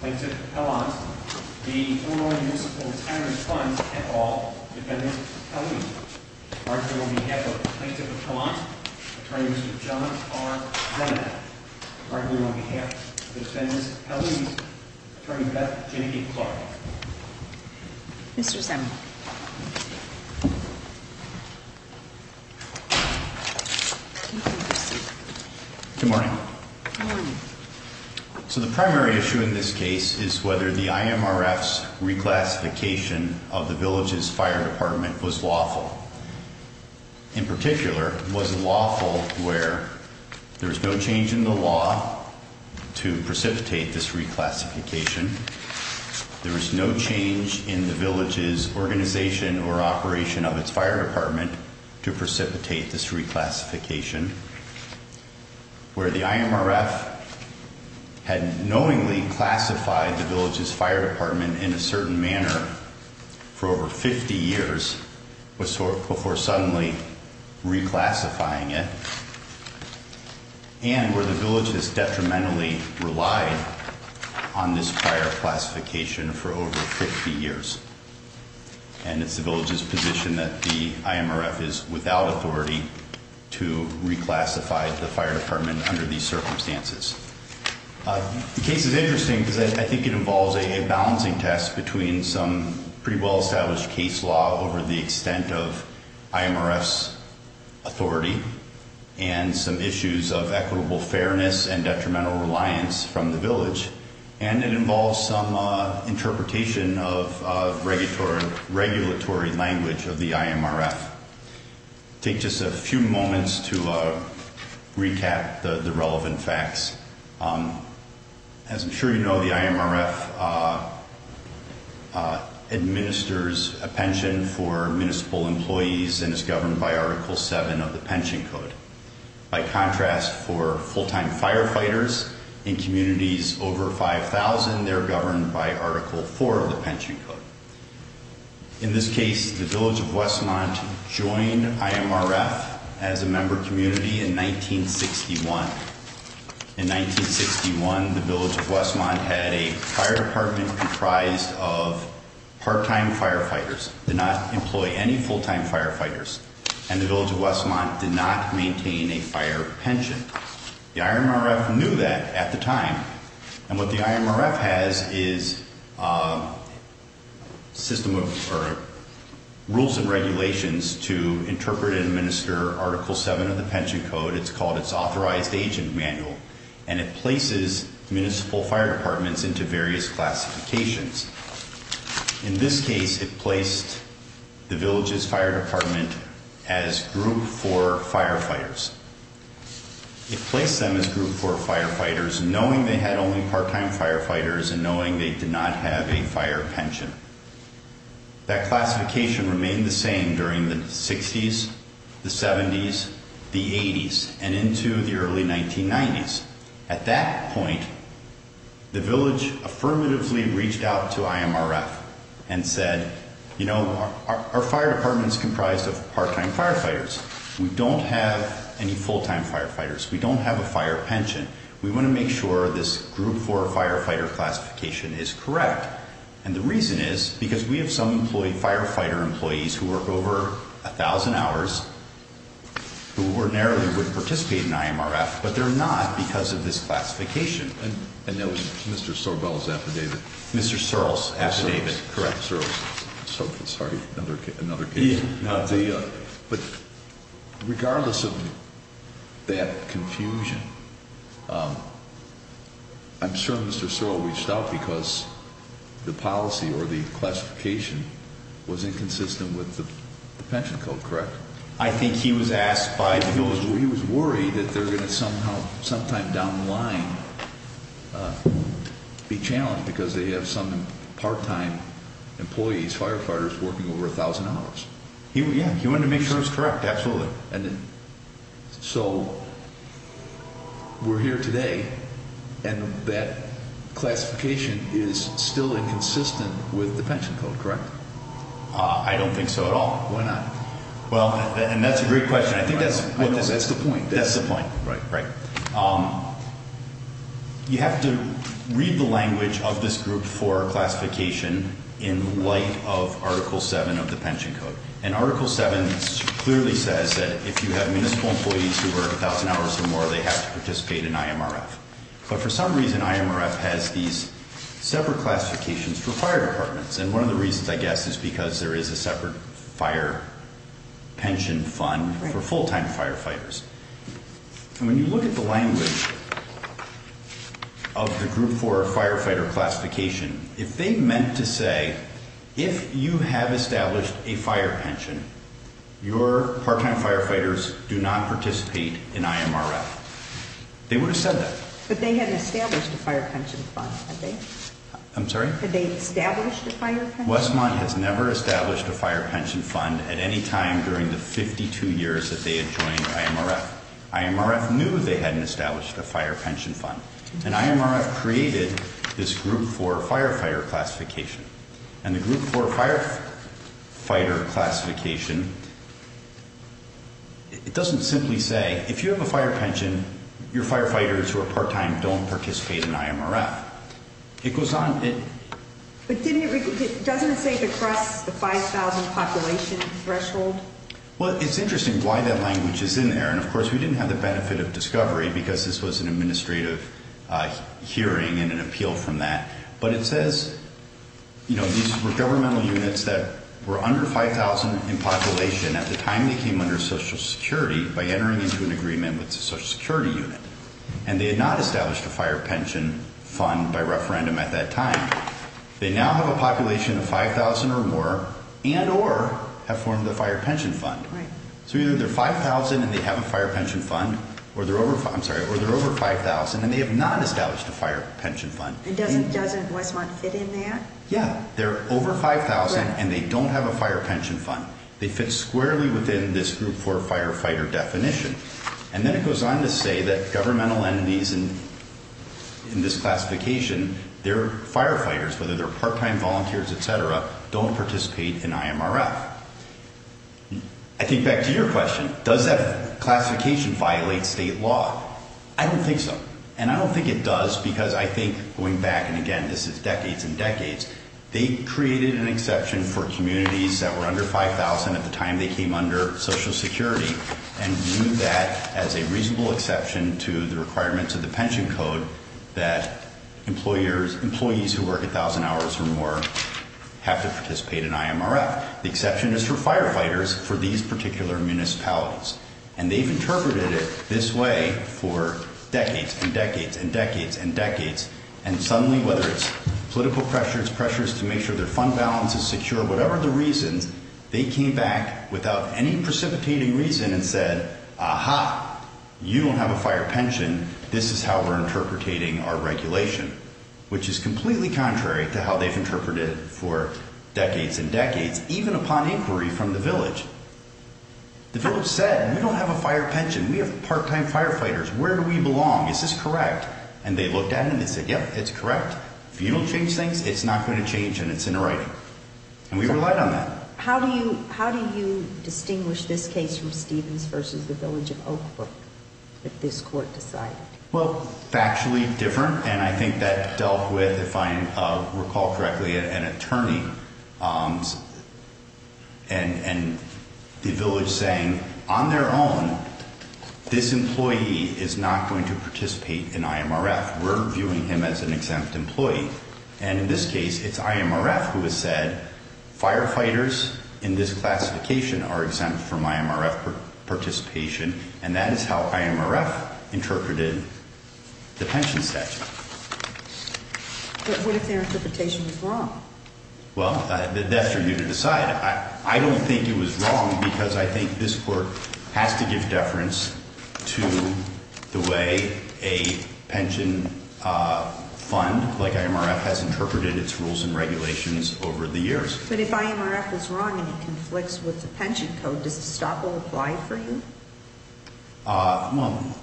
Plaintiff Pellant, the Illinois Municipal Retirement Fund at all, Defendant Pellouz. Arguably on behalf of Plaintiff Pellant, Attorney Mr. John R. Brennan. Arguably on behalf of Defendant Pellouz, Attorney Beth J. Clark. Mr. Semple. Good morning. Good morning. So the primary issue in this case is whether the IMRF's reclassification of the Village's Fire Department was lawful. In particular, was it lawful where there is no change in the law to precipitate this reclassification? There is no change in the Village's organization or operation of its Fire Department to precipitate this reclassification? Where the IMRF had knowingly classified the Village's Fire Department in a certain manner for over 50 years before suddenly reclassifying it? And where the Village has detrimentally relied on this fire classification for over 50 years? And it's the Village's position that the IMRF is without authority to reclassify the Fire Department under these circumstances. The case is interesting because I think it involves a balancing test between some pretty well-established case law over the extent of IMRF's authority and some issues of equitable fairness and detrimental reliance from the Village. And it involves some interpretation of regulatory language of the IMRF. I'll take just a few moments to recap the relevant facts. As I'm sure you know, the IMRF administers a pension for municipal employees and is governed by Article 7 of the Pension Code. By contrast, for full-time firefighters in communities over 5,000, they're governed by Article 4 of the Pension Code. In this case, the Village of Westmont joined IMRF as a member community in 1961. In 1961, the Village of Westmont had a fire department comprised of part-time firefighters, did not employ any full-time firefighters, and the Village of Westmont did not maintain a fire pension. The IMRF knew that at the time. And what the IMRF has is a system of rules and regulations to interpret and administer Article 7 of the Pension Code. It's called its Authorized Agent Manual, and it places municipal fire departments into various classifications. In this case, it placed the Village's fire department as Group 4 firefighters. It placed them as Group 4 firefighters, knowing they had only part-time firefighters and knowing they did not have a fire pension. That classification remained the same during the 60s, the 70s, the 80s, and into the early 1990s. At that point, the Village affirmatively reached out to IMRF and said, You know, our fire department is comprised of part-time firefighters. We don't have any full-time firefighters. We don't have a fire pension. We want to make sure this Group 4 firefighter classification is correct. And the reason is because we have some firefighter employees who work over 1,000 hours who ordinarily would participate in IMRF, but they're not because of this classification. And that was Mr. Sorbell's affidavit? Mr. Searle's affidavit, correct. Searle's. Sorry, another case. But regardless of that confusion, I'm sure Mr. Searle reached out because the policy or the classification was inconsistent with the pension code, correct? I think he was asked by the Village. He wanted to make sure it was correct, absolutely. So we're here today, and that classification is still inconsistent with the pension code, correct? I don't think so at all. Why not? Well, and that's a great question. I think that's the point. That's the point. Right. You have to read the language of this Group 4 classification in light of Article 7 of the pension code. And Article 7 clearly says that if you have municipal employees who work 1,000 hours or more, they have to participate in IMRF. But for some reason, IMRF has these separate classifications for fire departments. And one of the reasons, I guess, is because there is a separate fire pension fund for full-time firefighters. And when you look at the language of the Group 4 firefighter classification, if they meant to say, if you have established a fire pension, your part-time firefighters do not participate in IMRF, they would have said that. But they hadn't established a fire pension fund, had they? I'm sorry? Westmont has never established a fire pension fund at any time during the 52 years that they had joined IMRF. IMRF knew they hadn't established a fire pension fund. And IMRF created this Group 4 firefighter classification. And the Group 4 firefighter classification, it doesn't simply say, if you have a fire pension, your firefighters who are part-time don't participate in IMRF. It goes on. But doesn't it say across the 5,000 population threshold? Well, it's interesting why that language is in there. And, of course, we didn't have the benefit of discovery because this was an administrative hearing and an appeal from that. But it says, you know, these were governmental units that were under 5,000 in population. At the time, they came under Social Security by entering into an agreement with the Social Security unit. And they had not established a fire pension fund by referendum at that time. They now have a population of 5,000 or more and or have formed a fire pension fund. Right. So either they're 5,000 and they have a fire pension fund or they're over 5,000 and they have not established a fire pension fund. And doesn't Westmont fit in there? Yeah. They're over 5,000 and they don't have a fire pension fund. They fit squarely within this Group 4 firefighter definition. And then it goes on to say that governmental entities in this classification, they're firefighters, whether they're part-time volunteers, et cetera, don't participate in IMRF. I think back to your question, does that classification violate state law? I don't think so. And I don't think it does because I think going back, and again, this is decades and decades, they created an exception for communities that were under 5,000 at the time they came under Social Security and viewed that as a reasonable exception to the requirements of the pension code that employees who work 1,000 hours or more have to participate in IMRF. The exception is for firefighters for these particular municipalities. And they've interpreted it this way for decades and decades and decades and decades. And suddenly, whether it's political pressures, pressures to make sure their fund balance is secure, whatever the reasons, they came back without any precipitating reason and said, aha, you don't have a fire pension. This is how we're interpreting our regulation, which is completely contrary to how they've interpreted it for decades and decades, even upon inquiry from the village. The village said, we don't have a fire pension. We have part-time firefighters. Where do we belong? Is this correct? And they looked at it and they said, yep, it's correct. If you don't change things, it's not going to change and it's in the writing. And we relied on that. How do you distinguish this case from Stevens versus the village of Oakbrook if this court decided? Well, factually different, and I think that dealt with, if I recall correctly, an attorney and the village saying, on their own, this employee is not going to participate in IMRF. We're viewing him as an exempt employee. And in this case, it's IMRF who has said, firefighters in this classification are exempt from IMRF participation, and that is how IMRF interpreted the pension statute. But what if their interpretation was wrong? Well, that's for you to decide. I don't think it was wrong because I think this court has to give deference to the way a pension fund like IMRF has interpreted its rules and regulations over the years. But if IMRF was wrong and it conflicts with the pension code, does the stop will apply for you? Well,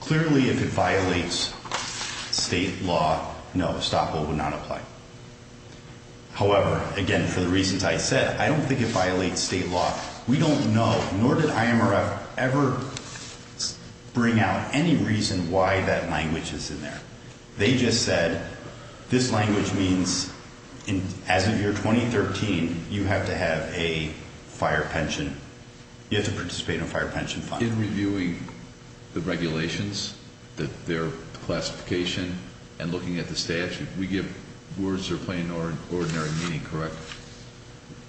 clearly, if it violates state law, no, stop will not apply. However, again, for the reasons I said, I don't think it violates state law. We don't know, nor did IMRF ever bring out any reason why that language is in there. They just said, this language means as of year 2013, you have to have a fire pension. You have to participate in a fire pension fund. In reviewing the regulations, their classification, and looking at the statute, we give words that are plain and ordinary meaning, correct?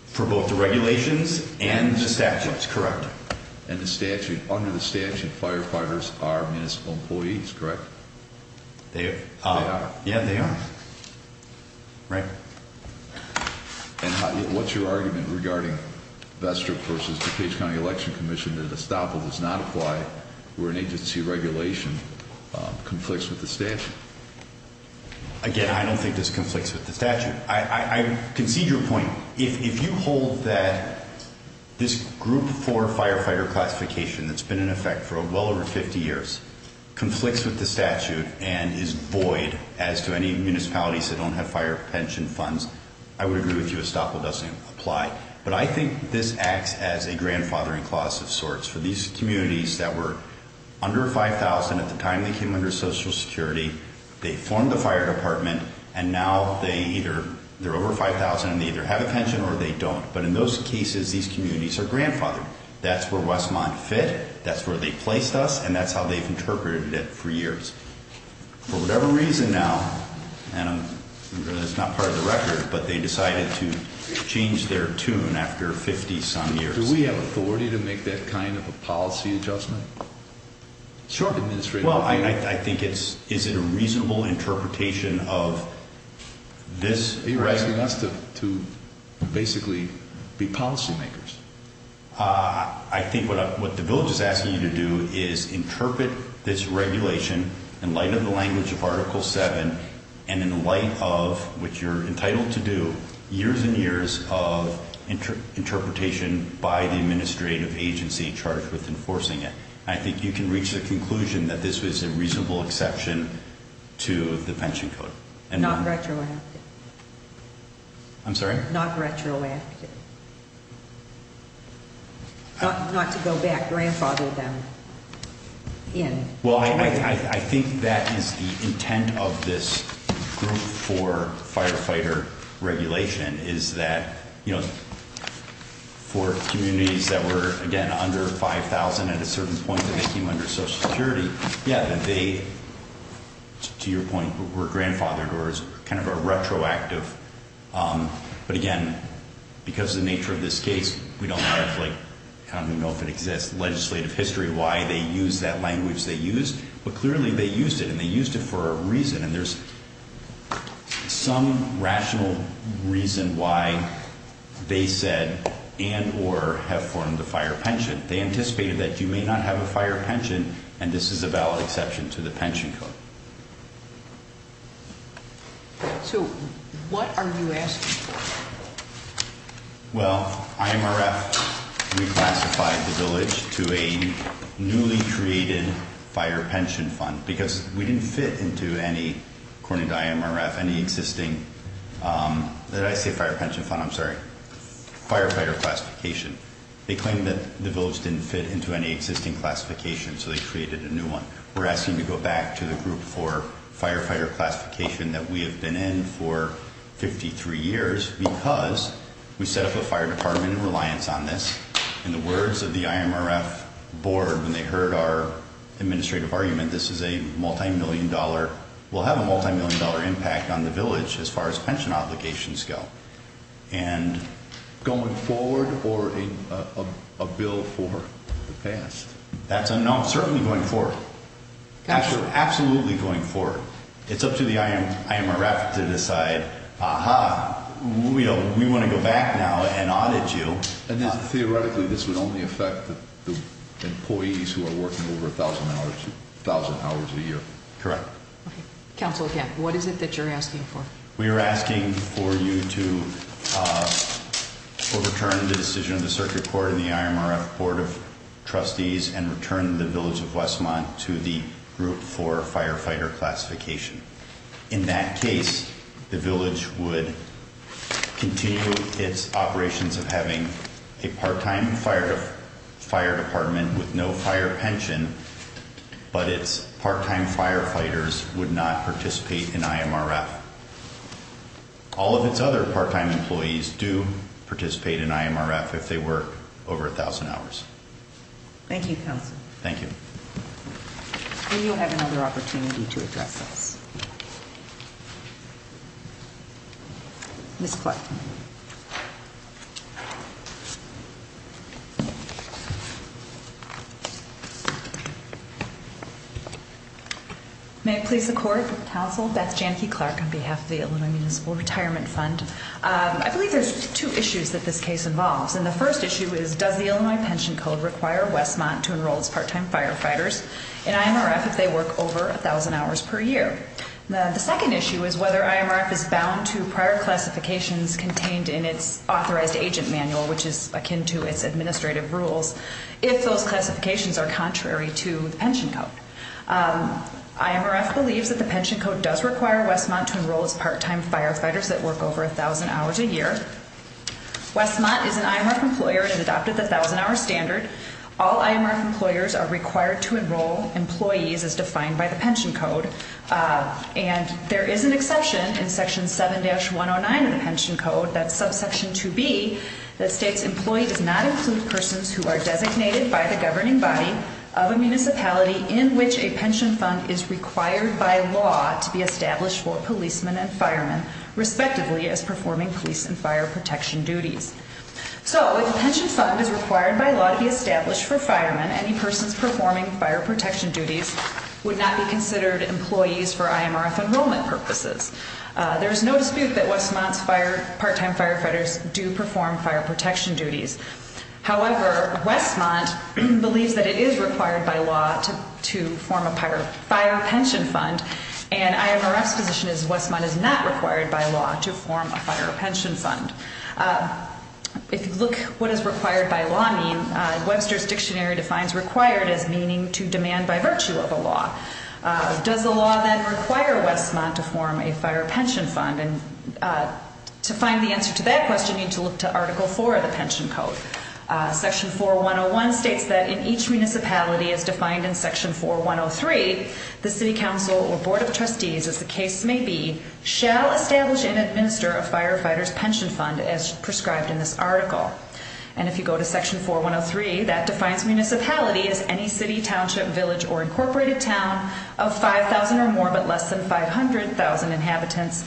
For both the regulations and the statutes, correct. And the statute, under the statute, firefighters are municipal employees, correct? They are. They are. Yeah, they are. Right. And what's your argument regarding Vester versus DuPage County Election Commission that a stop will not apply where an agency regulation conflicts with the statute? Again, I don't think this conflicts with the statute. I concede your point. If you hold that this group for firefighter classification that's been in effect for well over 50 years conflicts with the statute and is void as to any municipalities that don't have fire pension funds, I would agree with you a stop will not apply. But I think this acts as a grandfathering clause of sorts for these communities that were under 5,000 at the time they came under Social Security, they formed the fire department, and now they're over 5,000 and they either have a pension or they don't. But in those cases, these communities are grandfathered. That's where Westmont fit. That's where they placed us. And that's how they've interpreted it for years. For whatever reason now, and it's not part of the record, but they decided to change their tune after 50-some years. Do we have authority to make that kind of a policy adjustment? Sure. Well, I think it's, is it a reasonable interpretation of this? Are you asking us to basically be policy makers? I think what the village is asking you to do is interpret this regulation in light of the language of Article 7 and in light of what you're entitled to do, years and years of interpretation by the administrative agency charged with enforcing it. I think you can reach the conclusion that this was a reasonable exception to the pension code. Not retroactive. I'm sorry? Not retroactive. Not to go back. Grandfathered them in. Well, I think that is the intent of this group for firefighter regulation is that, you know, for communities that were, again, under 5,000 at a certain point and they came under Social Security, yeah, they, to your point, were grandfathered or kind of a retroactive. But, again, because of the nature of this case, we don't know if, like, kind of know if it exists, legislative history, why they used that language they used, but clearly they used it and they used it for a reason. And there's some rational reason why they said and or have formed a fire pension. They anticipated that you may not have a fire pension and this is a valid exception to the pension code. So, what are you asking for? Well, IMRF reclassified the village to a newly created fire pension fund because we didn't fit into any, according to IMRF, any existing, did I say fire pension fund? I'm sorry. Firefighter classification. They claimed that the village didn't fit into any existing classification so they created a new one. We're asking to go back to the group for firefighter classification that we have been in for 53 years because we set up a fire department in reliance on this. In the words of the IMRF board when they heard our administrative argument, this is a multimillion dollar, will have a multimillion dollar impact on the village as far as pension obligations go. And going forward or a bill for the past? That's unknown. Certainly going forward. Absolutely going forward. It's up to the IMRF to decide, aha, we want to go back now and audit you. And theoretically this would only affect the employees who are working over a thousand hours a year. Correct. Okay. Counsel again, what is it that you're asking for? We are asking for you to overturn the decision of the circuit court and the IMRF board of trustees and return the village of Westmont to the group for firefighter classification. In that case, the village would continue its operations of having a part-time fire department with no fire pension, but its part-time firefighters would not participate in IMRF. All of its other part-time employees do participate in IMRF if they work over a thousand hours. Thank you, counsel. Thank you. We do have another opportunity to address this. Ms. Clark. May it please the court, counsel, Beth Janke-Clark on behalf of the Illinois Municipal Retirement Fund. I believe there's two issues that this case involves. And the first issue is, does the Illinois Pension Code require Westmont to enroll its part-time firefighters in IMRF if they work over a thousand hours per year? The second issue is whether IMRF is bound to prior classifications contained in its authorized agent manual, which is akin to its administrative rules, if those classifications are contrary to the pension code. IMRF believes that the pension code does require Westmont to enroll its part-time firefighters that work over a thousand hours a year. Westmont is an IMRF employer and has adopted the thousand-hour standard. All IMRF employers are required to enroll employees as defined by the pension code. And there is an exception in Section 7-109 of the pension code, that's subsection 2B, that states employee does not include persons who are designated by the governing body of a municipality in which a pension fund is required by law to be established for policemen and firemen, respectively as performing police and fire protection duties. So, if a pension fund is required by law to be established for firemen, any persons performing fire protection duties would not be considered employees for IMRF enrollment purposes. There is no dispute that Westmont's part-time firefighters do perform fire protection duties. However, Westmont believes that it is required by law to form a fire pension fund, and IMRF's position is Westmont is not required by law to form a fire pension fund. If you look at what is required by law means, Webster's Dictionary defines required as meaning to demand by virtue of a law. Does the law then require Westmont to form a fire pension fund? To find the answer to that question, you need to look to Article 4 of the pension code. Section 4101 states that in each municipality, as defined in Section 4103, the City Council or Board of Trustees, as the case may be, shall establish and administer a firefighter's pension fund as prescribed in this article. And if you go to Section 4103, that defines municipality as any city, township, village, or incorporated town of 5,000 or more but less than 500,000 inhabitants,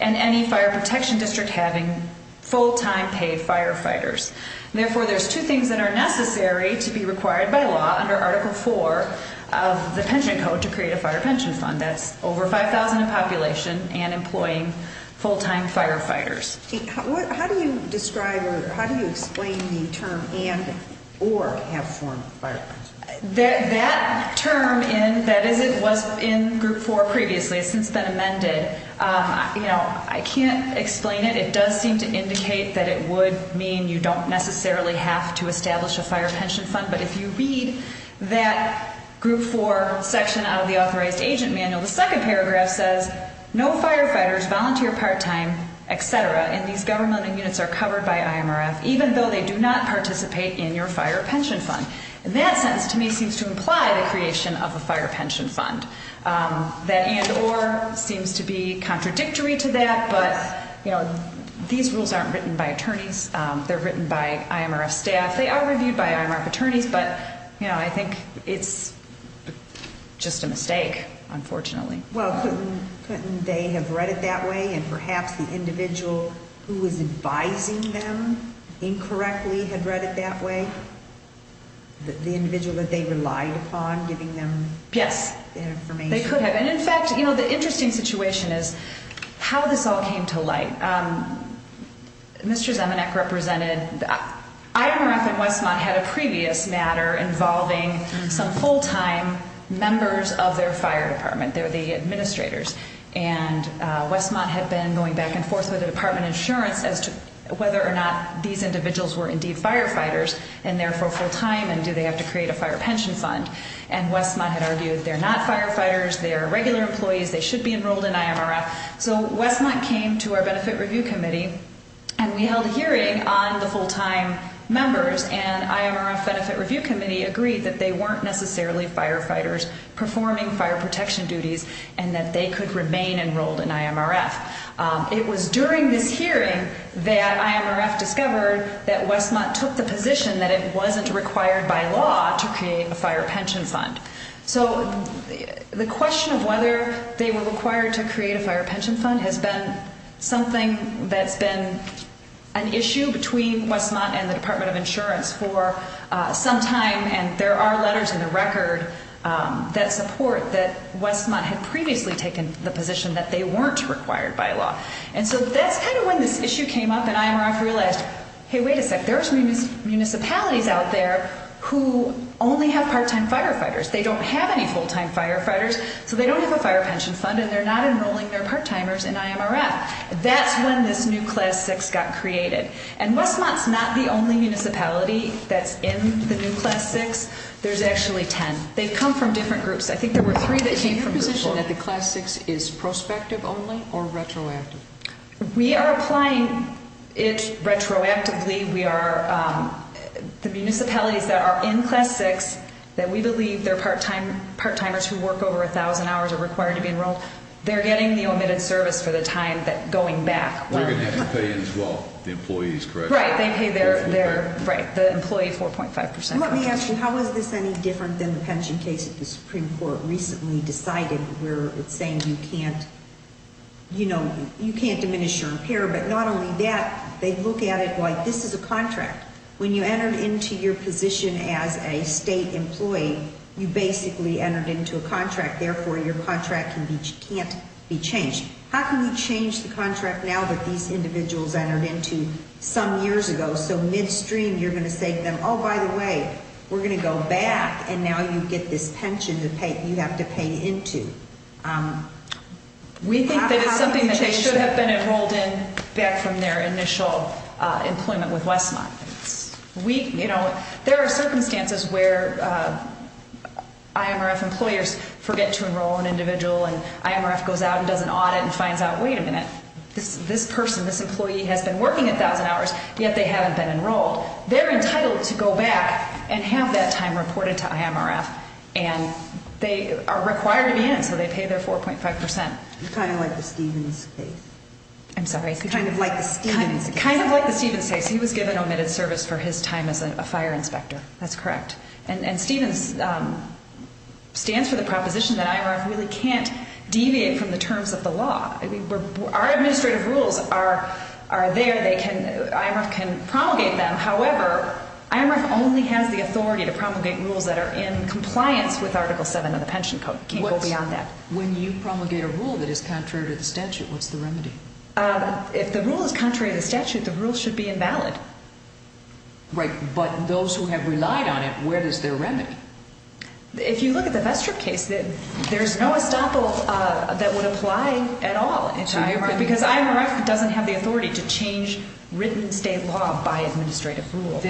and any fire protection district having full-time paid firefighters. Therefore, there's two things that are necessary to be required by law under Article 4 of the pension code to create a fire pension fund. That's over 5,000 in population and employing full-time firefighters. How do you describe or how do you explain the term and or have formed fire pensions? That term was in Group 4 previously. It's since been amended. I can't explain it. It does seem to indicate that it would mean you don't necessarily have to establish a fire pension fund. But if you read that Group 4 section out of the authorized agent manual, the second paragraph says, No firefighters volunteer part-time, etc., in these government units are covered by IMRF, even though they do not participate in your fire pension fund. In that sense, to me, it seems to imply the creation of a fire pension fund. That and or seems to be contradictory to that, but these rules aren't written by attorneys. They're written by IMRF staff. They are reviewed by IMRF attorneys, but I think it's just a mistake, unfortunately. Well, couldn't they have read it that way? And perhaps the individual who was advising them incorrectly had read it that way? The individual that they relied upon giving them information? Yes, they could have. And in fact, you know, the interesting situation is how this all came to light. Mr. Zemanek represented, IMRF and Westmont had a previous matter involving some full-time members of their fire department. They're the administrators, and Westmont had been going back and forth with the Department of Insurance as to whether or not these individuals were indeed firefighters, and therefore full-time, and do they have to create a fire pension fund? And Westmont had argued they're not firefighters, they're regular employees, they should be enrolled in IMRF. So Westmont came to our Benefit Review Committee, and we held a hearing on the full-time members, and IMRF Benefit Review Committee agreed that they weren't necessarily firefighters performing fire protection duties, and that they could remain enrolled in IMRF. It was during this hearing that IMRF discovered that Westmont took the position that it wasn't required by law to create a fire pension fund. So the question of whether they were required to create a fire pension fund has been something that's been an issue between Westmont and the Department of Insurance for some time, and there are letters in the record that support that Westmont had previously taken the position that they weren't required by law. And so that's kind of when this issue came up, and IMRF realized, hey, wait a sec, there's municipalities out there who only have part-time firefighters. They don't have any full-time firefighters, so they don't have a fire pension fund, and they're not enrolling their part-timers in IMRF. That's when this new Class 6 got created. And Westmont's not the only municipality that's in the new Class 6. There's actually 10. They've come from different groups. I think there were three that came from Group 4. Is your position that the Class 6 is prospective only or retroactive? We are applying it retroactively. The municipalities that are in Class 6 that we believe they're part-timers who work over 1,000 hours are required to be enrolled. They're getting the omitted service for the time going back. They're going to have to pay as well the employees, correct? Right. They pay the employee 4.5 percent. So let me ask you, how is this any different than the pension case that the Supreme Court recently decided where it's saying you can't, you know, you can't diminish your repair? But not only that, they look at it like this is a contract. When you entered into your position as a state employee, you basically entered into a contract. Therefore, your contract can't be changed. How can we change the contract now that these individuals entered into some years ago so midstream you're going to say to them, oh, by the way, we're going to go back and now you get this pension you have to pay into? We think that it's something that they should have been enrolled in back from their initial employment with Westmont. You know, there are circumstances where IMRF employers forget to enroll an individual and IMRF goes out and does an audit and finds out, wait a minute, this person, this employee has been working 1,000 hours, yet they haven't been enrolled. They're entitled to go back and have that time reported to IMRF. And they are required to be in, so they pay their 4.5%. Kind of like the Stevens case. I'm sorry? Kind of like the Stevens case. Kind of like the Stevens case. He was given omitted service for his time as a fire inspector. That's correct. And Stevens stands for the proposition that IMRF really can't deviate from the terms of the law. Our administrative rules are there. IMRF can promulgate them. However, IMRF only has the authority to promulgate rules that are in compliance with Article 7 of the pension code. It can't go beyond that. When you promulgate a rule that is contrary to the statute, what's the remedy? If the rule is contrary to the statute, the rule should be invalid. Right, but those who have relied on it, where is their remedy? If you look at the Bestrip case, there's no estoppel that would apply at all to IMRF because IMRF doesn't have the authority to change written state law by administrative rule.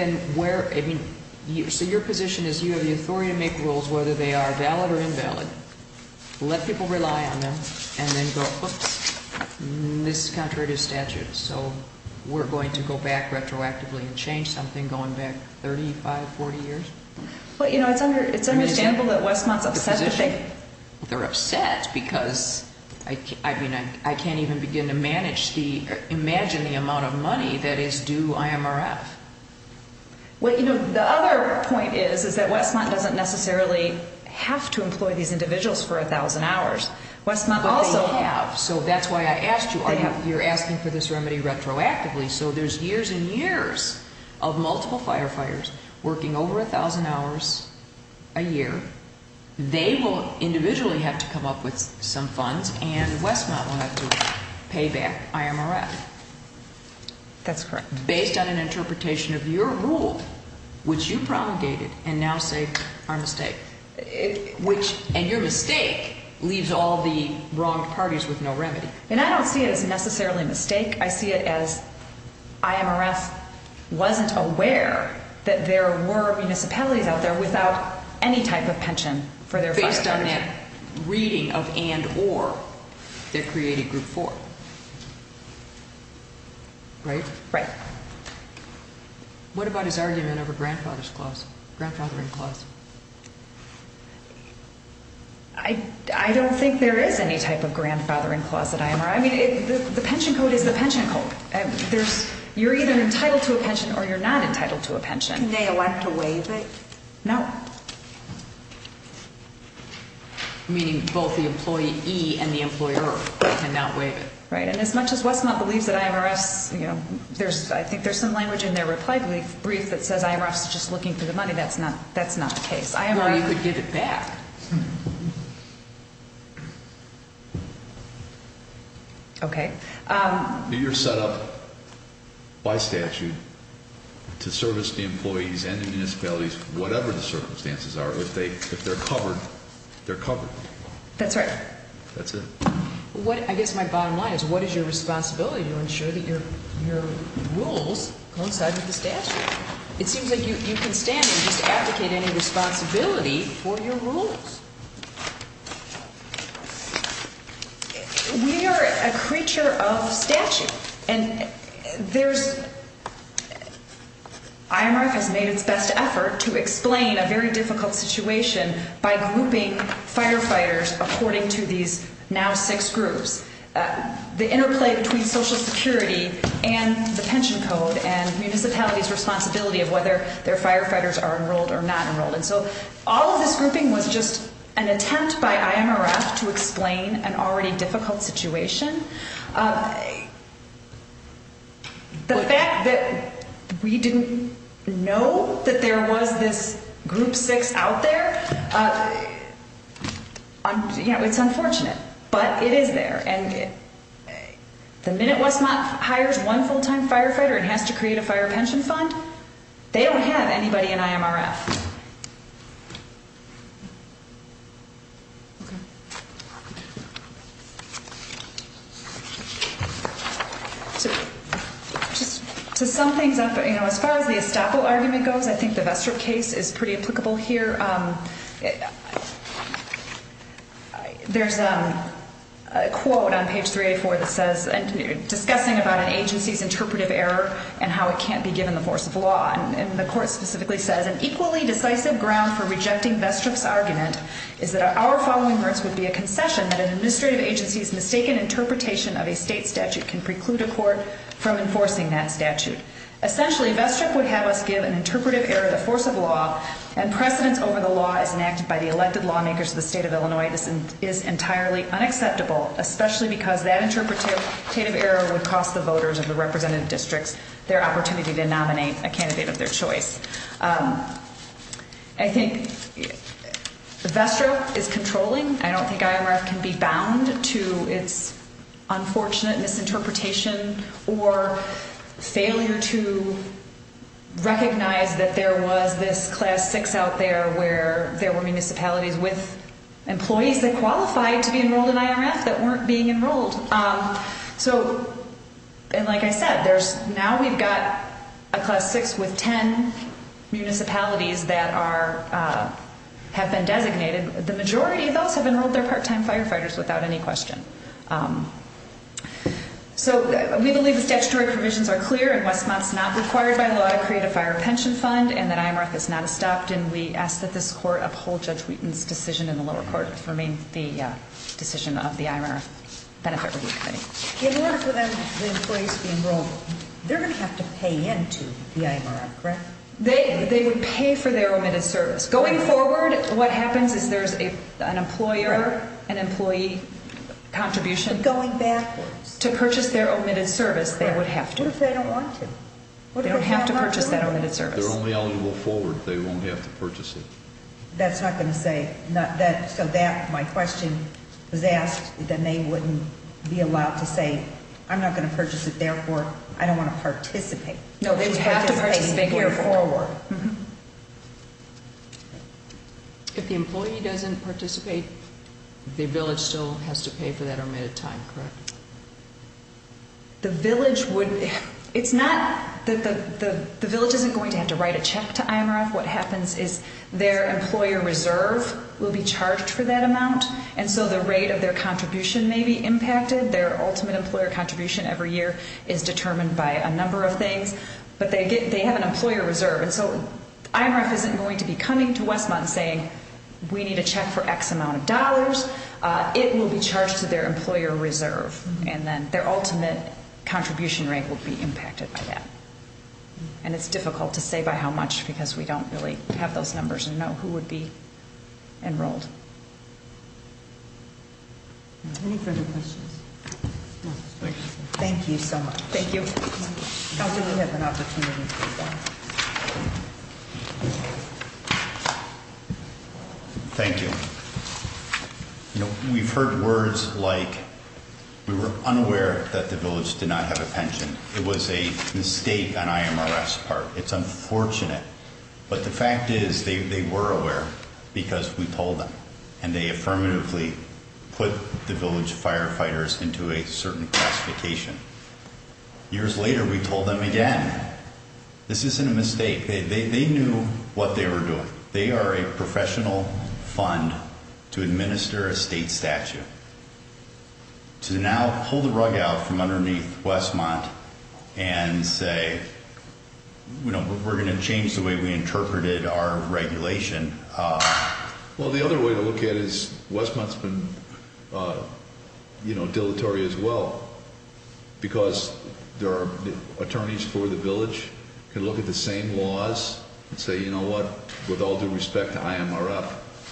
So your position is you have the authority to make rules, whether they are valid or invalid, let people rely on them, and then go, oops, this is contrary to statute, so we're going to go back retroactively and change something going back 35, 40 years? Well, you know, it's understandable that Westmont's upset. They're upset because, I mean, I can't even begin to imagine the amount of money that is due IMRF. Well, you know, the other point is that Westmont doesn't necessarily have to employ these individuals for 1,000 hours. But they have, so that's why I asked you. You're asking for this remedy retroactively, so there's years and years of multiple firefighters working over 1,000 hours a year. They will individually have to come up with some funds, and Westmont will have to pay back IMRF. That's correct. Based on an interpretation of your rule, which you promulgated and now say are a mistake, and your mistake leaves all the wronged parties with no remedy. And I don't see it as necessarily a mistake. I see it as IMRF wasn't aware that there were municipalities out there without any type of pension for their firefighters. Based on that reading of and or that created Group 4, right? Right. What about his argument over grandfathering clause? I don't think there is any type of grandfathering clause at IMRF. I mean, the pension code is the pension code. You're either entitled to a pension or you're not entitled to a pension. Can they elect to waive it? No. Meaning both the employee and the employer cannot waive it. Right, and as much as Westmont believes that IMRF's, you know, I think there's some language in their reply brief that says IMRF's just looking for the money. To me, that's not the case. Well, you could get it back. Okay. You're set up by statute to service the employees and the municipalities, whatever the circumstances are. If they're covered, they're covered. That's right. That's it. I guess my bottom line is what is your responsibility to ensure that your rules coincide with the statute? It seems like you can stand and just advocate any responsibility for your rules. We are a creature of statute, and there's – IMRF has made its best effort to explain a very difficult situation by grouping firefighters according to these now six groups. The interplay between Social Security and the pension code and municipalities' responsibility of whether their firefighters are enrolled or not enrolled. And so all of this grouping was just an attempt by IMRF to explain an already difficult situation. The fact that we didn't know that there was this group six out there, you know, it's unfortunate. But it is there. And the minute Westmont hires one full-time firefighter and has to create a fire pension fund, they don't have anybody in IMRF. Okay. Just to sum things up, you know, as far as the estoppel argument goes, I think the Vestrop case is pretty applicable here. There's a quote on page 384 that says – discussing about an agency's interpretive error and how it can't be given the force of law. And the court specifically says, an equally decisive ground for rejecting Vestrop's argument is that our following merits would be a concession that an administrative agency's mistaken interpretation of a state statute can preclude a court from enforcing that statute. Essentially, Vestrop would have us give an interpretive error the force of law and precedence over the law is enacted by the elected lawmakers of the state of Illinois. This is entirely unacceptable, especially because that interpretive error would cost the voters of the representative districts their opportunity to nominate a candidate of their choice. I think Vestrop is controlling. I don't think IMRF can be bound to its unfortunate misinterpretation or failure to recognize that there was this class six out there where there were municipalities with employees that qualified to be enrolled in IMRF that weren't being enrolled. And like I said, now we've got a class six with ten municipalities that have been designated. The majority of those have enrolled their part-time firefighters without any question. So we believe the statutory provisions are clear and Westmont's not required by law to create a fire pension fund and that IMRF is not stopped and we ask that this court uphold Judge Wheaton's decision in the lower court to remain the decision of the IMRF Benefit Review Committee. In order for the employees to be enrolled, they're going to have to pay into the IMRF, correct? They would pay for their omitted service. Going forward, what happens is there's an employer, an employee contribution. Going backwards. To purchase their omitted service, they would have to. What if they don't want to? They don't have to purchase that omitted service. They're only eligible forward. They won't have to purchase it. That's not going to say, so my question was asked, then they wouldn't be allowed to say, I'm not going to purchase it, therefore I don't want to participate. No, they have to participate here forward. If the employee doesn't participate, the village still has to pay for that omitted time, correct? The village wouldn't. It's not that the village isn't going to have to write a check to IMRF. What happens is their employer reserve will be charged for that amount and so the rate of their contribution may be impacted. Their ultimate employer contribution every year is determined by a number of things, but they have an employer reserve. And so IMRF isn't going to be coming to Westmont and saying, we need a check for X amount of dollars. It will be charged to their employer reserve and then their ultimate contribution rate will be impacted by that. And it's difficult to say by how much because we don't really have those numbers and know who would be enrolled. Thank you so much. Thank you. I really had an opportunity to respond. Thank you. We've heard words like we were unaware that the village did not have a pension. It was a mistake on IMRF's part. It's unfortunate. But the fact is they were aware because we told them and they affirmatively put the village firefighters into a certain classification. Years later, we told them again, this isn't a mistake. They knew what they were doing. They are a professional fund to administer a state statute. To now pull the rug out from underneath Westmont and say, we're going to change the way we interpreted our regulation. Well, the other way to look at it is Westmont's been dilatory as well. Because there are attorneys for the village can look at the same laws and say, you know what, with all due respect to IMRF,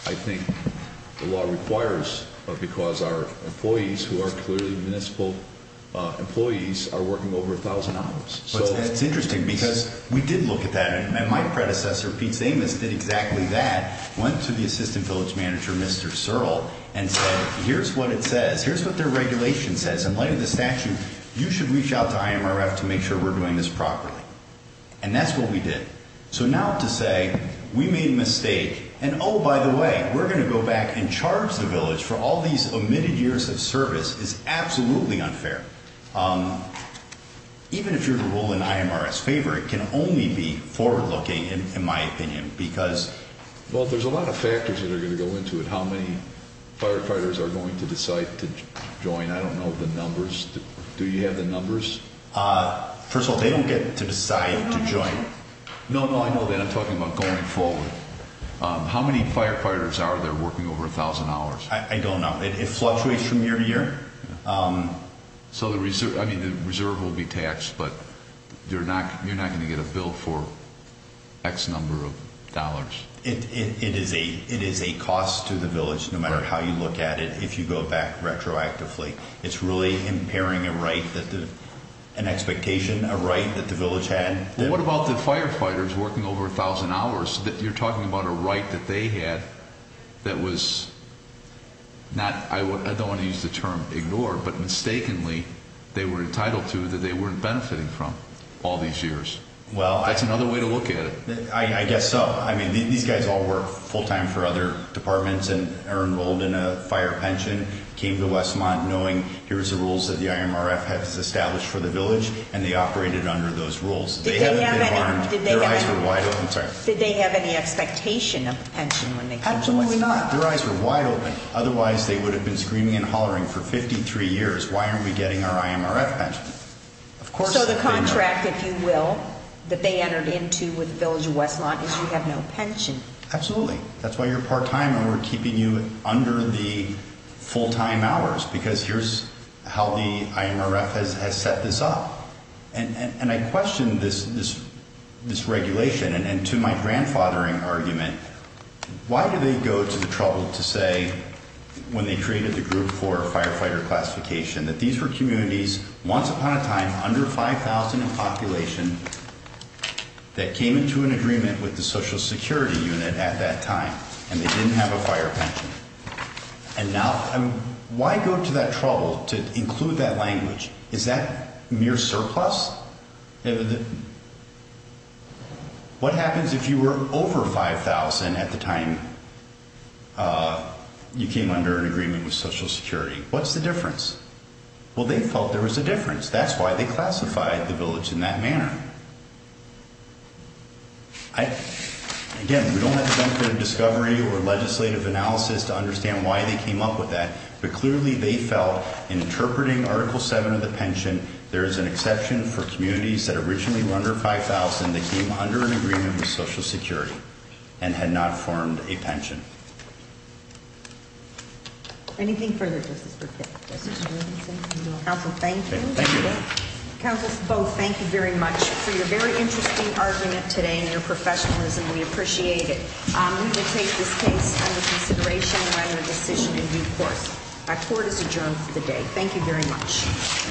I think the law requires because our employees who are clearly municipal employees are working over 1,000 hours. It's interesting because we did look at that. And my predecessor, Pete Samus, did exactly that. Went to the assistant village manager, Mr. Searle, and said, here's what it says. Here's what their regulation says. In light of the statute, you should reach out to IMRF to make sure we're doing this properly. And that's what we did. So now to say we made a mistake and, oh, by the way, we're going to go back and charge the village for all these omitted years of service is absolutely unfair. Even if you're to rule in IMRF's favor, it can only be forward-looking, in my opinion, because Well, there's a lot of factors that are going to go into it, how many firefighters are going to decide to join. I don't know the numbers. Do you have the numbers? First of all, they don't get to decide to join. No, no, I know that. I'm talking about going forward. How many firefighters are there working over 1,000 hours? I don't know. It fluctuates from year to year. So the reserve will be taxed, but you're not going to get a bill for X number of dollars. It is a cost to the village, no matter how you look at it, if you go back retroactively. It's really impairing a right, an expectation, a right that the village had. Well, what about the firefighters working over 1,000 hours? You're talking about a right that they had that was not, I don't want to use the term ignored, but mistakenly they were entitled to that they weren't benefiting from all these years. That's another way to look at it. I guess so. I mean, these guys all work full-time for other departments and are enrolled in a fire pension, came to Westmont knowing here's the rules that the IMRF has established for the village, and they operated under those rules. They haven't been harmed. Their eyes were wide open. Did they have any expectation of a pension when they came to Westmont? Absolutely not. Their eyes were wide open. Otherwise, they would have been screaming and hollering for 53 years, why aren't we getting our IMRF pension? So the contract, if you will, that they entered into with the village of Westmont is you have no pension. Absolutely. That's why you're part-time and we're keeping you under the full-time hours because here's how the IMRF has set this up. And I question this regulation. And to my grandfathering argument, why do they go to the trouble to say when they created the group for firefighter classification that these were communities once upon a time under 5,000 in population that came into an agreement with the Social Security unit at that time and they didn't have a fire pension? And now why go to that trouble to include that language? Is that mere surplus? What happens if you were over 5,000 at the time you came under an agreement with Social Security? What's the difference? Well, they felt there was a difference. That's why they classified the village in that manner. Again, we don't have the benefit of discovery or legislative analysis to understand why they came up with that, but clearly they felt in interpreting Article 7 of the pension, there is an exception for communities that originally were under 5,000 that came under an agreement with Social Security and had not formed a pension. Thank you. Anything further, Justice Burkett? Counsel, thank you. Counsel, both, thank you very much for your very interesting argument today and your professionalism. We appreciate it. We will take this case under consideration and write a decision in due course. Our court is adjourned for the day. Thank you very much.